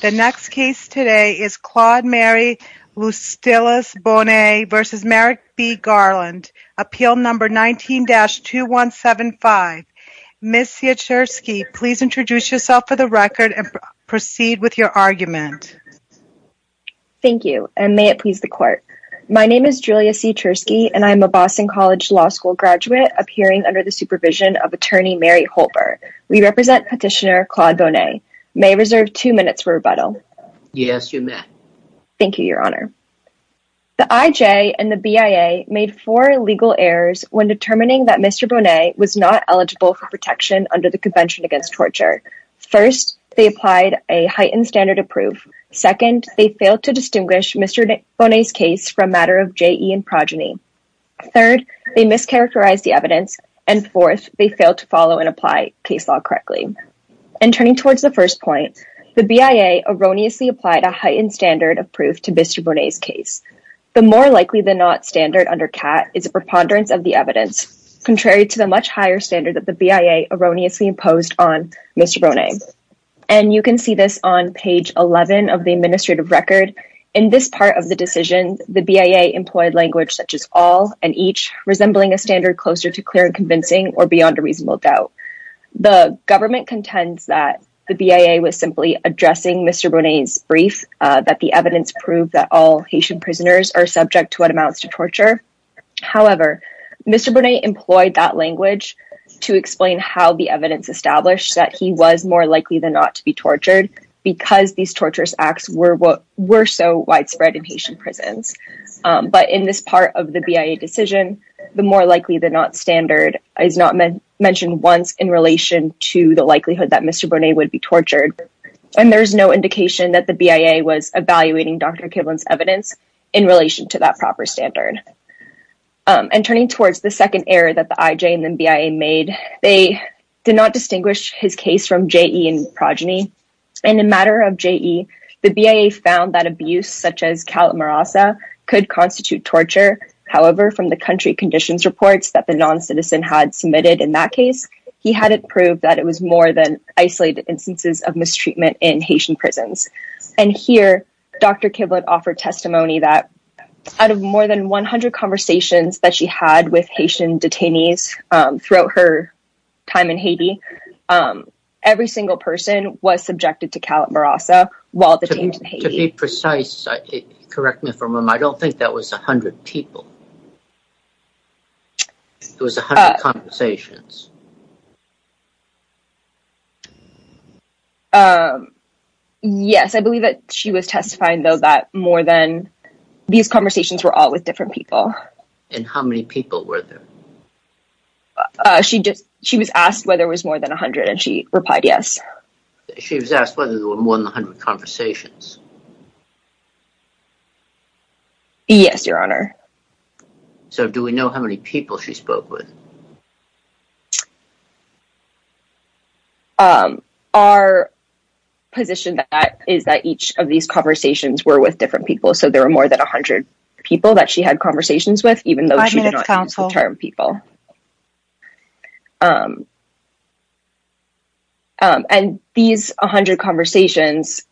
The next case today is Claude Mary Luistilus Bonnet v. Merrick B. Garland appeal number 19-2175. Ms. Sieturski, please introduce yourself for the record and proceed with your argument. Thank you and may it please the court. My name is Julia Sieturski and I'm a Boston College Law School graduate appearing under the supervision of attorney Mary Holber. We represent petitioner Claude Bonnet. May I reserve two minutes for rebuttal? Yes, you may. Thank you, Your Honor. The IJ and the BIA made four legal errors when determining that Mr. Bonnet was not eligible for protection under the Convention Against Torture. First, they applied a heightened standard of proof. Second, they failed to distinguish Mr. Bonnet's case from a matter of JE and progeny. Third, they mischaracterized the evidence and fourth, they failed to follow and apply case law correctly. And turning towards the first point, the BIA erroneously applied a heightened standard of proof to Mr. Bonnet's case. The more likely than not standard under CAAT is a preponderance of the evidence, contrary to the much higher standard that the BIA erroneously imposed on Mr. Bonnet. And you can see this on page 11 of the administrative record. In this part of the decision, the BIA employed language such as all and each, resembling a standard closer to government contends that the BIA was simply addressing Mr. Bonnet's brief that the evidence proved that all Haitian prisoners are subject to what amounts to torture. However, Mr. Bonnet employed that language to explain how the evidence established that he was more likely than not to be tortured because these torturous acts were what were so widespread in Haitian prisons. But in this part of the BIA decision, the more likely than not standard is not mentioned once in relation to the likelihood that Mr. Bonnet would be tortured. And there's no indication that the BIA was evaluating Dr. Kivlin's evidence in relation to that proper standard. And turning towards the second error that the IJ and then BIA made, they did not distinguish his case from JE and progeny. In a matter of JE, the BIA found that abuse such as calamarasa could constitute torture. However, from the country conditions reports that the he hadn't proved that it was more than isolated instances of mistreatment in Haitian prisons. And here, Dr. Kivlin offered testimony that out of more than 100 conversations that she had with Haitian detainees throughout her time in Haiti, every single person was subjected to calamarasa while detained in Haiti. To be precise, correct me if I'm wrong, I don't think that was 100 people. It was 100 conversations. Yes, I believe that she was testifying though that more than these conversations were all with different people. And how many people were there? She just, she was asked whether it was more than 100 and she replied yes. She was asked whether there were more than 100 conversations. Yes, your honor. So do we know how many people she spoke with? Our position is that each of these conversations were with different people. So there were more than 100 people that she had conversations with even though she did not use the term people. And these 100 conversations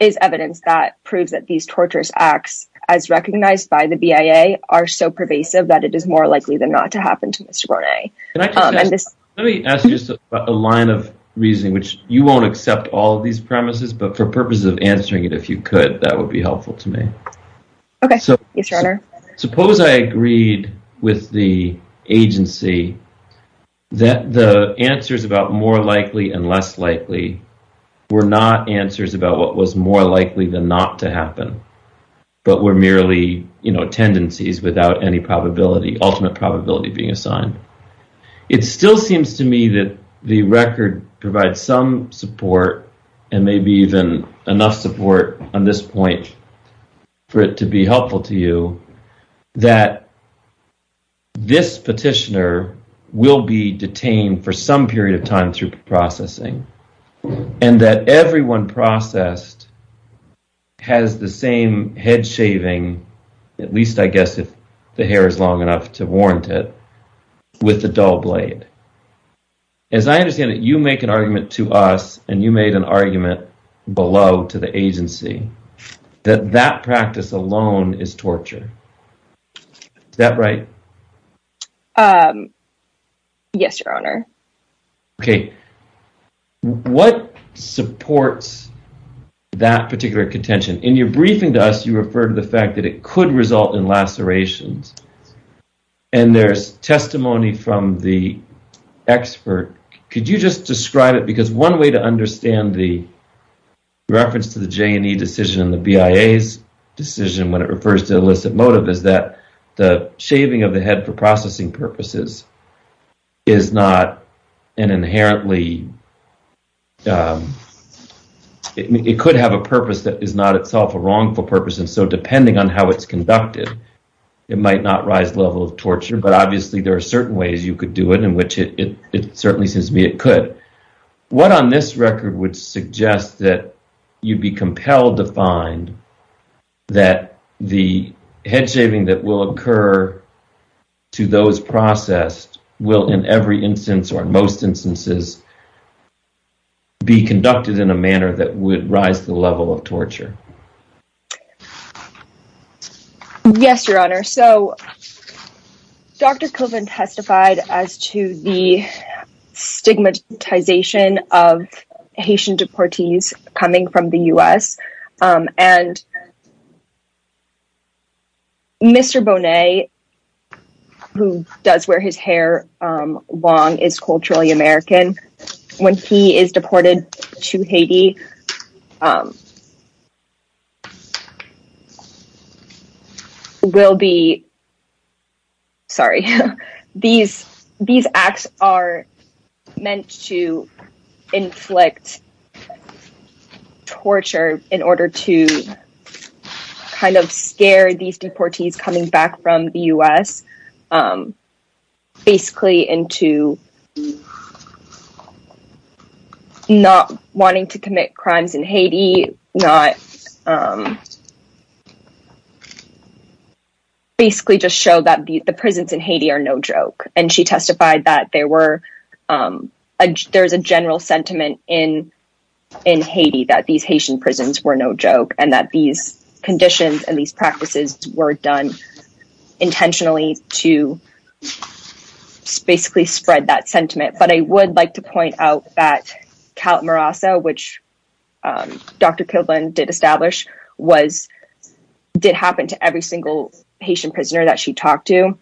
is evidence that proves that these torturous acts as recognized by the BIA are so pervasive that it is more likely than not to happen to Mr. Rone. Let me ask you a line of reasoning which you won't accept all these premises but for purposes of answering it if you could that would be helpful to me. Okay, yes your honor. Suppose I agreed with the agency that the answers about more likely and less likely were not answers about what was more likely than not to happen but were merely you know tendencies without any probability ultimate probability being assigned. It still seems to me that the record provides some support and maybe even enough support on this point for it to be helpful to you that this petitioner will be detained for some period of time through processing and that everyone processed has the same head shaving at least I guess if the hair is long enough to warrant it with the dull blade. As I understand it you make an argument to us and you made an argument below to the what supports that particular contention in your briefing to us you refer to the fact that it could result in lacerations and there's testimony from the expert could you just describe it because one way to understand the reference to the J&E decision in the BIA's decision when it refers to illicit motive is that the it could have a purpose that is not itself a wrongful purpose and so depending on how it's conducted it might not rise level of torture but obviously there are certain ways you could do it in which it certainly seems to be it could. What on this record would suggest that you'd be compelled to find that the head shaving that will occur to those processed will in every instance or in most instances be conducted in a manner that would rise the level of torture? Yes your honor so Dr. Coven testified as to the stigmatization of Haitian deportees coming from the U.S. and Mr. Bonet who does wear his hair long is culturally American when he is deported to Haiti will be sorry these these acts are meant to inflict torture in order to kind of scare these deportees coming back from the U.S. basically into not wanting to commit crimes in Haiti not basically just show that the prisons in Haiti are no joke and she testified that there were there's a general sentiment in in Haiti that these Haitian prisons were no joke and that these conditions and these practices were done intentionally to basically spread that sentiment but I would like to point out that Cal Marasa which Dr. Kilburn did establish was did happen to every single Haitian prisoner that she talked to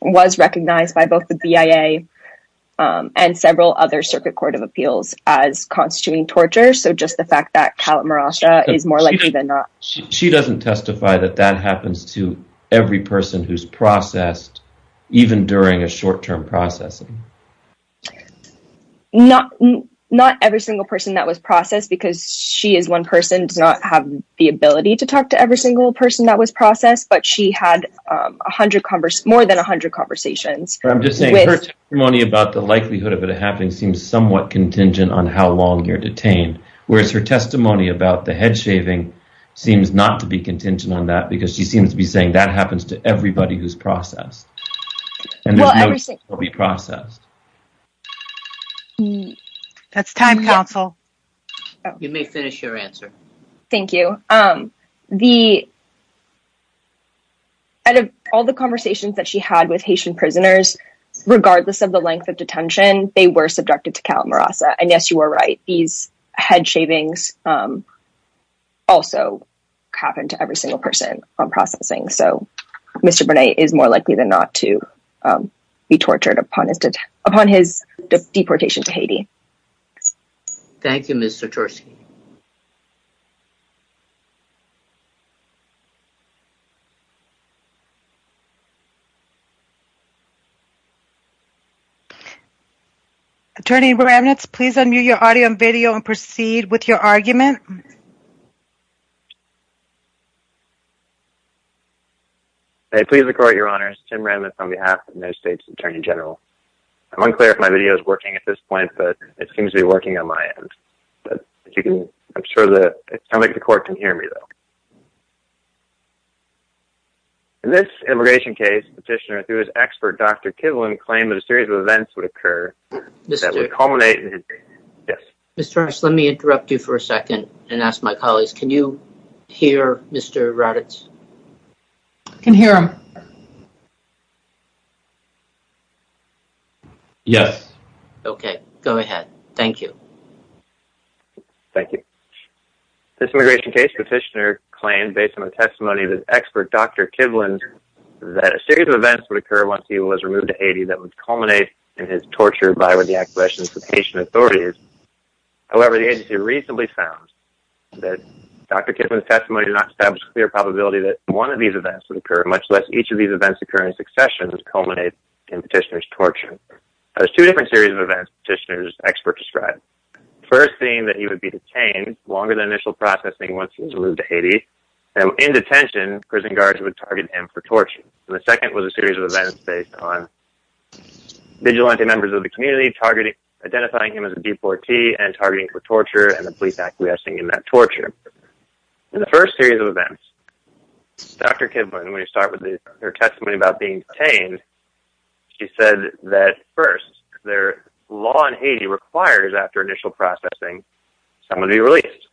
was recognized by both the BIA and several other Circuit Court of Appeals as constituting torture so just the fact that Cal Marasa is more likely than not she doesn't testify that that happens to every person who's processed even during a short-term processing not not every single person that was processed because she is one person does not have the ability to talk to every single person that was processed but she had a hundred covers more than a hundred conversations I'm just saying money about the likelihood of it happening seems somewhat contingent on how long you're in prison but her testimony about the head-shaving seems not to be contingent on that because she seems to be saying that happens to everybody who's processed and will be processed that's time counsel you may finish your answer thank you um the out of all the conversations that she had with Haitian prisoners regardless of the length of detention they were subjected to Cal Marasa and also happened to every single person on processing so mr. Burnett is more likely than not to be tortured upon his upon his deportation to Haiti thank you mr. Tursky attorney remnants please unmute your audio and video and proceed with your argument hey please record your honors Tim remnants on behalf of the United States Attorney General I'm unclear if my video is working at this point but it seems to be working on my end but you can I'm sure that it's time like the court can hear me though in this immigration case petitioner through his expert dr. Kivlin claim that a series of events would occur this is a culminated yes this let me interrupt you for a second and ask my colleagues can you hear mr. Raddatz can hear him yes okay go ahead thank you thank you this immigration case petitioner claim based on a testimony of his expert dr. Kivlin that a series of events would occur once he was removed to Haiti that would culminate in his torture by with authorities however the agency recently found that dr. Kivlin testimony to not establish clear probability that one of these events would occur much less each of these events occurring successions culminate in petitioners torture there's two different series of events petitioners expert described first thing that he would be detained longer than initial processing once he's moved to Haiti now in detention prison guards would target him for torture the second was a series of events based on vigilante members of the community targeting identifying him as a deportee and targeting for torture and the police acquiescing in that torture in the first series of events dr. Kivlin when you start with the her testimony about being detained she said that first their law in Haiti requires after initial processing someone to be released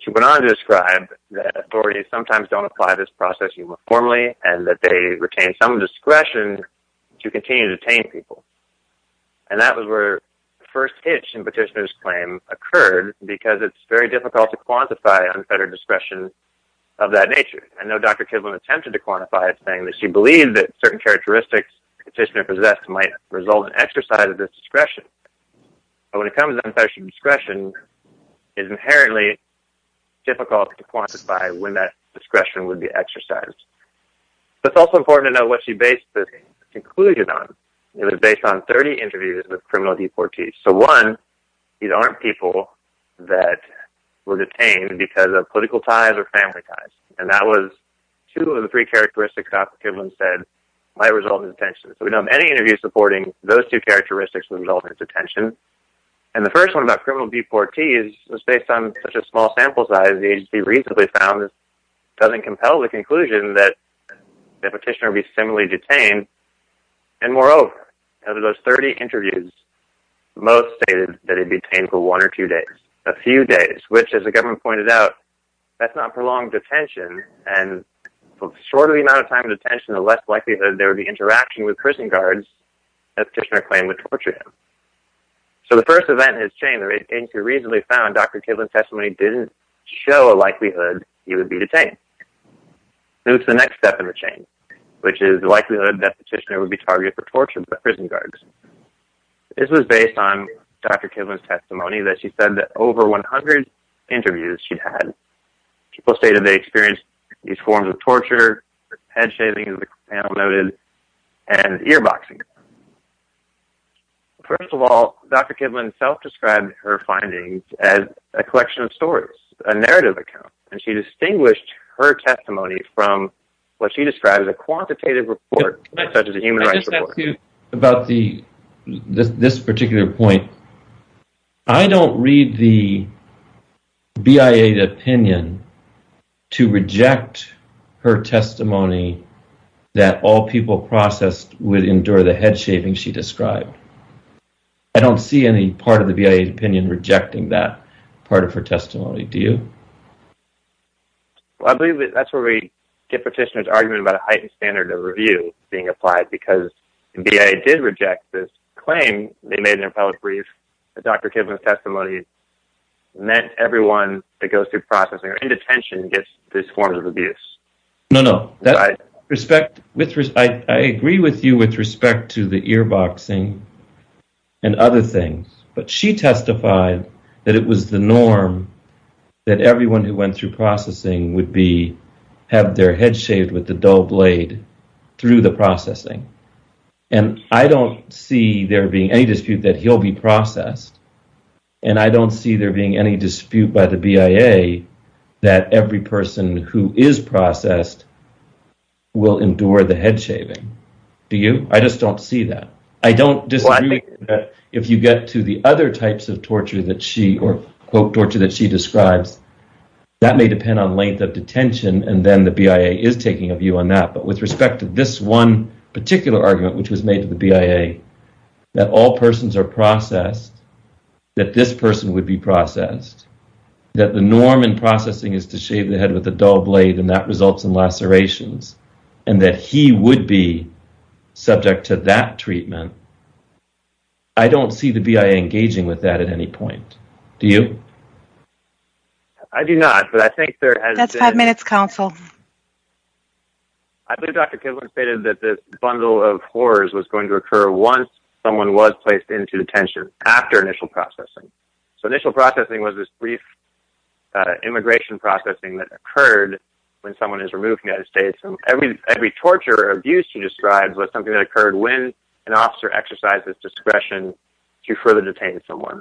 she went on to describe that authorities sometimes don't apply this process uniformly and that they retain some discretion to continue to detain people and that was where first hitch in petitioners claim occurred because it's very difficult to quantify unfettered discretion of that nature I know dr. Kivlin attempted to quantify it saying that she believed that certain characteristics petitioner possessed might result in exercise of this discretion but when it comes to discretion is inherently difficult to exercise it's also important to know what she basically concluded on it was based on 30 interviews with criminal deportees so one these aren't people that were detained because of political ties or family ties and that was two of the three characteristics dr. Kivlin said might result in detention so we know many interviews supporting those two characteristics the result of detention and the first one about criminal deportees was based on such a small sample size these be reasonably found doesn't compel the conclusion that the petitioner be similarly detained and moreover out of those 30 interviews most stated that it'd be painful one or two days a few days which as the government pointed out that's not prolonged detention and shorter the amount of time of detention the less likely that there would be interaction with prison guards a petitioner claim would torture him so the first event has changed recently found dr. Kivlin testimony didn't show a likelihood he would be detained it's the next step in the chain which is the likelihood that petitioner would be targeted for torture by prison guards this was based on dr. Kivlin testimony that she said that over 100 interviews she'd had people stated they experienced these forms of torture head-shaving as the panel noted and first of all dr. Kivlin self-described her findings as a collection of stories a narrative account and she distinguished her testimony from what she described as a quantitative report such as a human rights about the this particular point I don't read the BIA to opinion to reject her testimony that all people processed would endure the head-shaving she described I don't see any part of the BIA opinion rejecting that part of her testimony do you I believe that's where we get petitioners argument about a heightened standard of review being applied because BIA did reject this claim they made an appellate brief dr. Kivlin testimony meant everyone that goes through processing or no no that respect with respect I agree with you with respect to the ear boxing and other things but she testified that it was the norm that everyone who went through processing would be have their head shaved with the dull blade through the processing and I don't see there being any dispute that he'll be processed and I don't see there being any dispute by the BIA that every person who is processed will endure the head-shaving do you I just don't see that I don't just like if you get to the other types of torture that she or quote torture that she describes that may depend on length of detention and then the BIA is taking a view on that but with respect to this one particular argument which was made to the BIA that all persons are processed that this person would be processed that the norm in processing is to shave the head with the dull blade and that results in lacerations and that he would be subject to that treatment I don't see the BIA engaging with that at any point do you I do not but I think there has that's five minutes counsel I believe dr. Kivlin stated that the bundle of horrors was going to occur once someone was placed into detention after initial processing so initial processing was immigration processing that occurred when someone is removed United States from every every torture or abuse she describes was something that occurred when an officer exercises discretion to further detain someone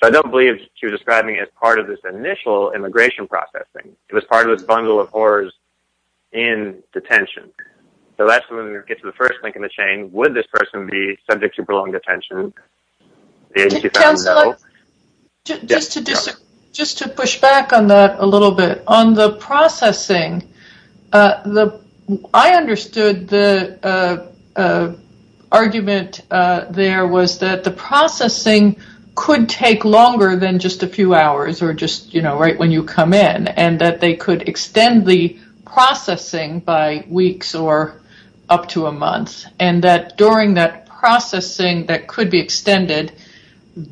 so I don't believe she was describing as part of this initial immigration processing it was part of this bundle of horrors in detention so that's when you get to the first link in the chain would this person be subject to prolonged detention just to just just to push back on that a little bit on the processing the I understood the argument there was that the processing could take longer than just a few hours or just you know right when you come in and that they could extend the processing by weeks or up to a month and that during that processing that could be extended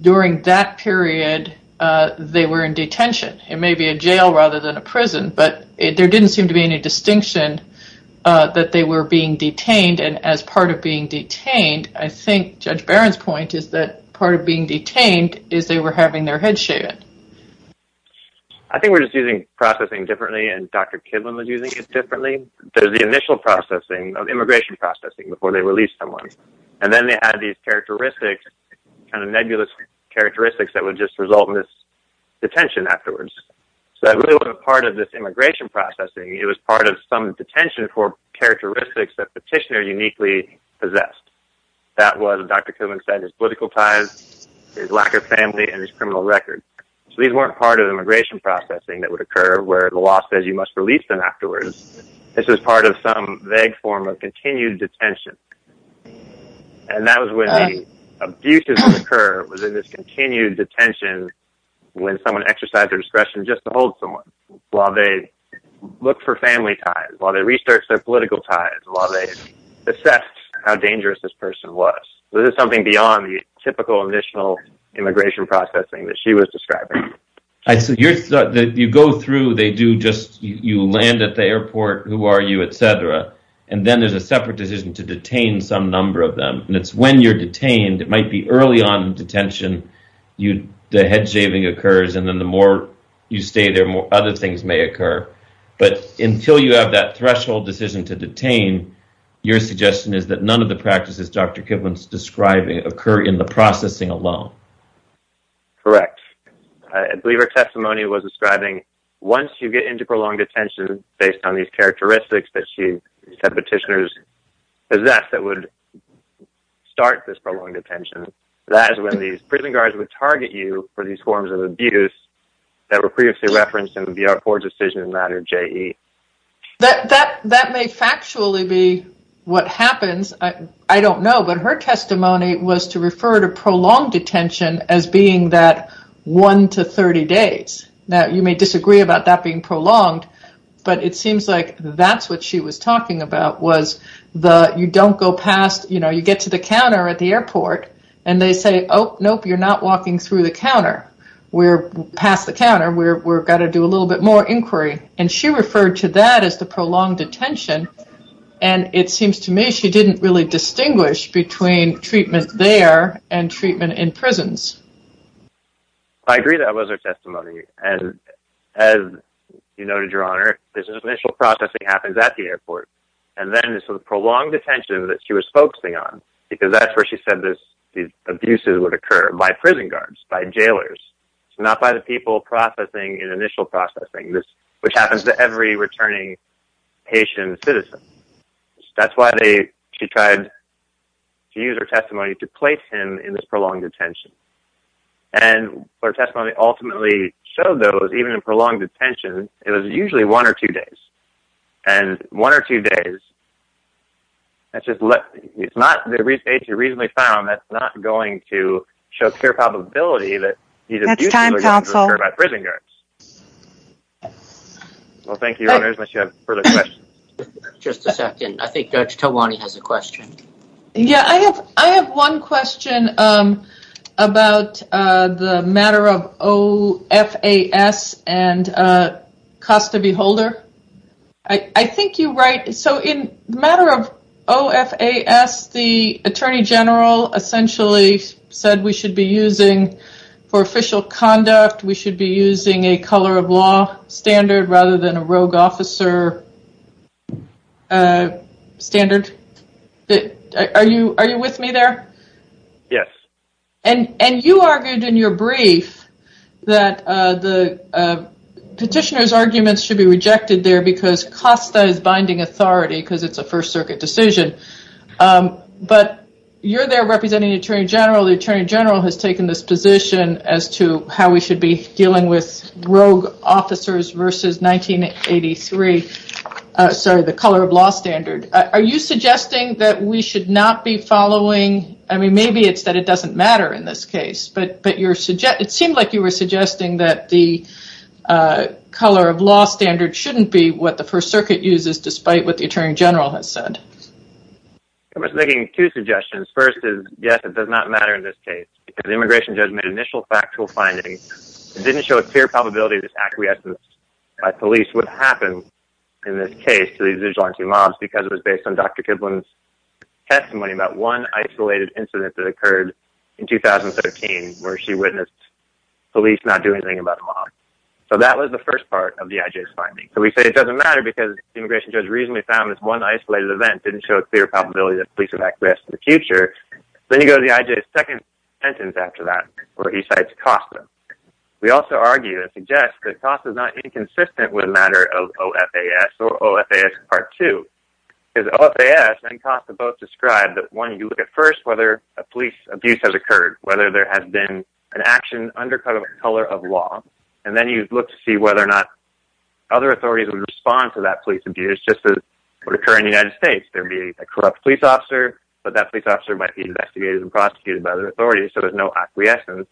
during that period they were in detention it may be a jail rather than a prison but there didn't seem to be any distinction that they were being detained and as part of being detained I think judge Barron's point is that part of being detained is they were having their head shaved I think we're just using processing differently and dr. Kidman was using it differently there's the initial processing of immigration processing before they released someone and then they had these characteristics and a nebulous characteristics that would just result in this detention afterwards so that really what a part of this immigration processing it was part of some detention for characteristics that petitioner uniquely possessed that was dr. Kovac said his political ties his lack of family and his criminal record so these weren't part of immigration processing that would occur where the law says you must release them afterwards this is part of some vague form of continued detention and that was when the abuses occur within this continued detention when someone exercised their discretion just to hold someone while they look for family ties while they research their political ties while they assessed how dangerous this person was this is something beyond the typical initial immigration processing that she was describing I said you're that you go through they do just you land at the airport who are you and then there's a separate decision to detain some number of them and it's when you're detained it might be early on detention you the head shaving occurs and then the more you stay there more other things may occur but until you have that threshold decision to detain your suggestion is that none of the practices dr. Kivlin's describing occur in the processing alone correct I believe her testimony was describing once you get into prolonged attention based on these characteristics that she said petitioners is that that would start this prolonged attention that is when these prison guards would target you for these forms of abuse that were previously referenced in the VR for decision matter J that that that may factually be what happens I don't know but her testimony was to refer to prolonged attention as being that one to prolonged but it seems like that's what she was talking about was the you don't go past you know you get to the counter at the airport and they say oh nope you're not walking through the counter we're past the counter where we're got to do a little bit more inquiry and she referred to that as the prolonged attention and it seems to me she didn't really distinguish between treatment there and treatment in prisons I agree that was her testimony and as you noted your honor this initial processing happens at the airport and then this was prolonged attention that she was focusing on because that's where she said this these abuses would occur by prison guards by jailers it's not by the people processing in initial processing this which happens to every returning Haitian citizen that's why they she tried to use her testimony to place him in this prolonged attention and her testimony ultimately showed those even in prolonged detention it was usually one or two days and one or two days that's just look it's not the reason they found that's not going to show just a second I think judge Tawani has a question yeah I have I have one question about the matter of OFAS and Costa Beholder I I think you write so in matter of OFAS the Attorney General essentially said we should be using for official conduct we should be using a color of law standard rather than a rogue officer standard that are you are you with me there yes and and you argued in your brief that the petitioners arguments should be rejected there because Costa is binding authority because it's a First Circuit decision but you're there representing Attorney General the Attorney General has taken this position as to how we should be dealing with rogue officers versus 1983 sorry the color of law standard are you suggesting that we should not be following I mean maybe it's that it doesn't matter in this case but but you're suggest it seemed like you were suggesting that the color of law standard shouldn't be what the First Circuit uses despite what the Attorney General has said I was making two suggestions first is yes it does not matter in this case because the immigration judge made initial factual findings didn't show a clear probability this acquiescence by police would happen in this case to these vigilante mobs because it was based on dr. Kipling's testimony about one isolated incident that occurred in 2013 where she witnessed police not doing anything about the mob so that was the first part of the IJ's finding so we say it doesn't matter because immigration judge reasonably found this one isolated event didn't show a clear probability that police have acquiesced in the future then you go to the IJ's second sentence after that where he cites Kosta we also argue that suggests that Kosta is not inconsistent with a matter of OFAS or OFAS part two is OFAS and Kosta both described that one you look at first whether a police abuse has occurred whether there has been an action undercut of a color of law and then you look to see whether or not other authorities would respond to that police abuse just as would occur in the United States there be a corrupt police officer but that police officer might be investigated and prosecuted by other authorities so there's no acquiescence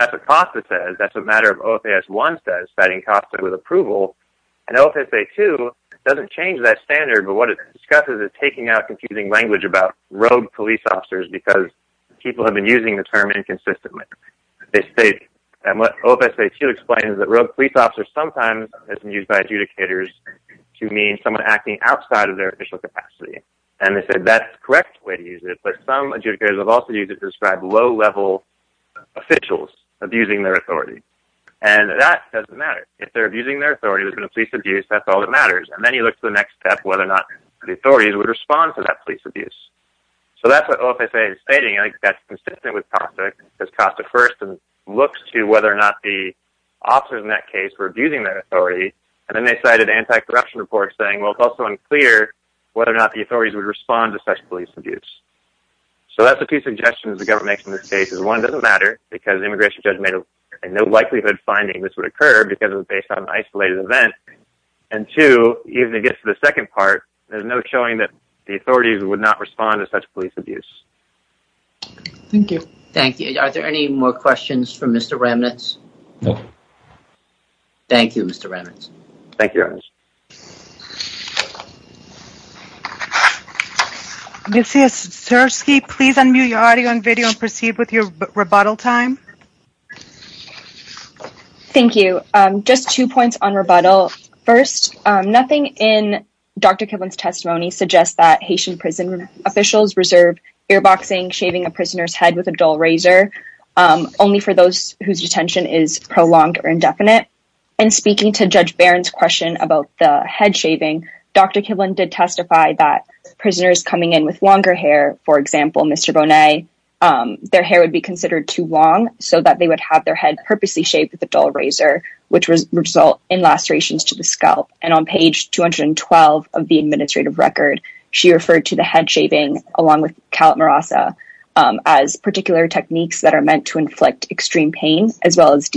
that's what Kosta says that's a matter of OFAS one says fighting Kosta with approval and OFSA 2 doesn't change that standard but what it discusses is taking out confusing language about rogue police officers because people have been using the term inconsistently they say and what OFSA 2 explains is that rogue police officers sometimes has been used by adjudicators to mean someone acting outside of their initial capacity and they said that's correct way to use it but some adjudicators have also used it to describe low-level officials abusing their authority and that doesn't matter if they're abusing their authority there's been a police abuse that's all that matters and then you look to the next step whether or not the authorities would respond to that police abuse so that's what OFSA is stating I think that's consistent with Kosta because Kosta first and looks to whether or not the officers in that case were abusing their authority and then they cited anti-corruption reports saying well it's also unclear whether or not the authorities would respond to such police abuse so that's a few suggestions the government makes in this case is one doesn't matter because the immigration judge made a no likelihood finding this would occur because it was based on an isolated event and two even it gets to the second part there's no showing that the authorities would not respond to such police abuse thank you thank you are there any more questions for mr. remnants no thank you mr. remnants thank you mr. ski please unmute your audio and video and proceed with your rebuttal time thank you just two points on rebuttal first nothing in dr. Kevin's testimony suggests that Haitian prison officials reserve ear boxing shaving a prisoner's head with a dull razor only for those whose detention is question about the head shaving dr. Kivlin did testify that prisoners coming in with longer hair for example mr. bonet their hair would be considered too long so that they would have their head purposely shaped with the dull razor which was result in lacerations to the scalp and on page 212 of the administrative record she referred to the head shaving along with calmer ASA as particular techniques that are meant to inflict extreme pain as well as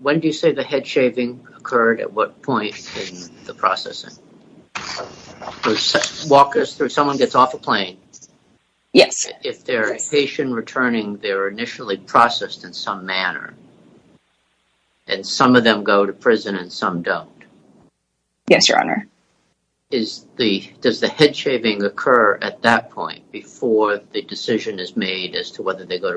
when do you say the head shaving occurred at what point in the processing walkers through someone gets off a plane yes if they're a patient returning they're initially processed in some manner and some of them go to prison and some don't yes your honor is the does the head shaving occur at that point before the decision is made as to whether they go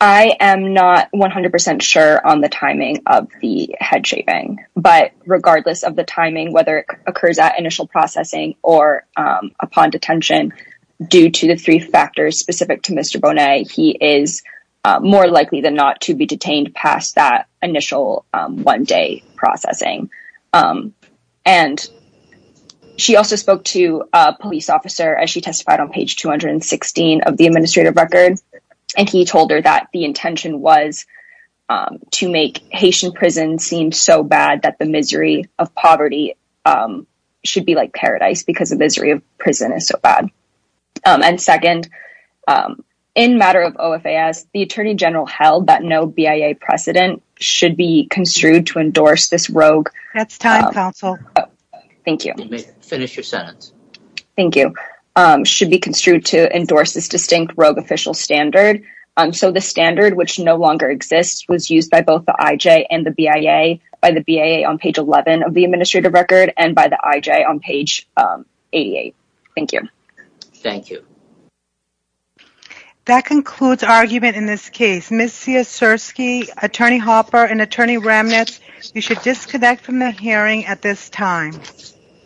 I am NOT 100% sure on the timing of the head shaving but regardless of the timing whether it occurs at initial processing or upon detention due to the three factors specific to mr. bonet he is more likely than not to be detained past that initial one-day processing and she also spoke to a police officer as she testified on page 216 of the administrative record and he told her that the intention was to make Haitian prison seemed so bad that the misery of poverty should be like paradise because of misery of prison is so bad and second in matter of OFAS the Attorney General held that no BIA precedent should be construed to endorse this rogue that's time counsel thank you finish your should be construed to endorse this distinct rogue official standard and so the standard which no longer exists was used by both the IJ and the BIA by the BIA on page 11 of the administrative record and by the IJ on page 88 thank you thank you that concludes argument in this case missy a sir ski attorney Hopper and attorney remnants you should disconnect from the hearing at this time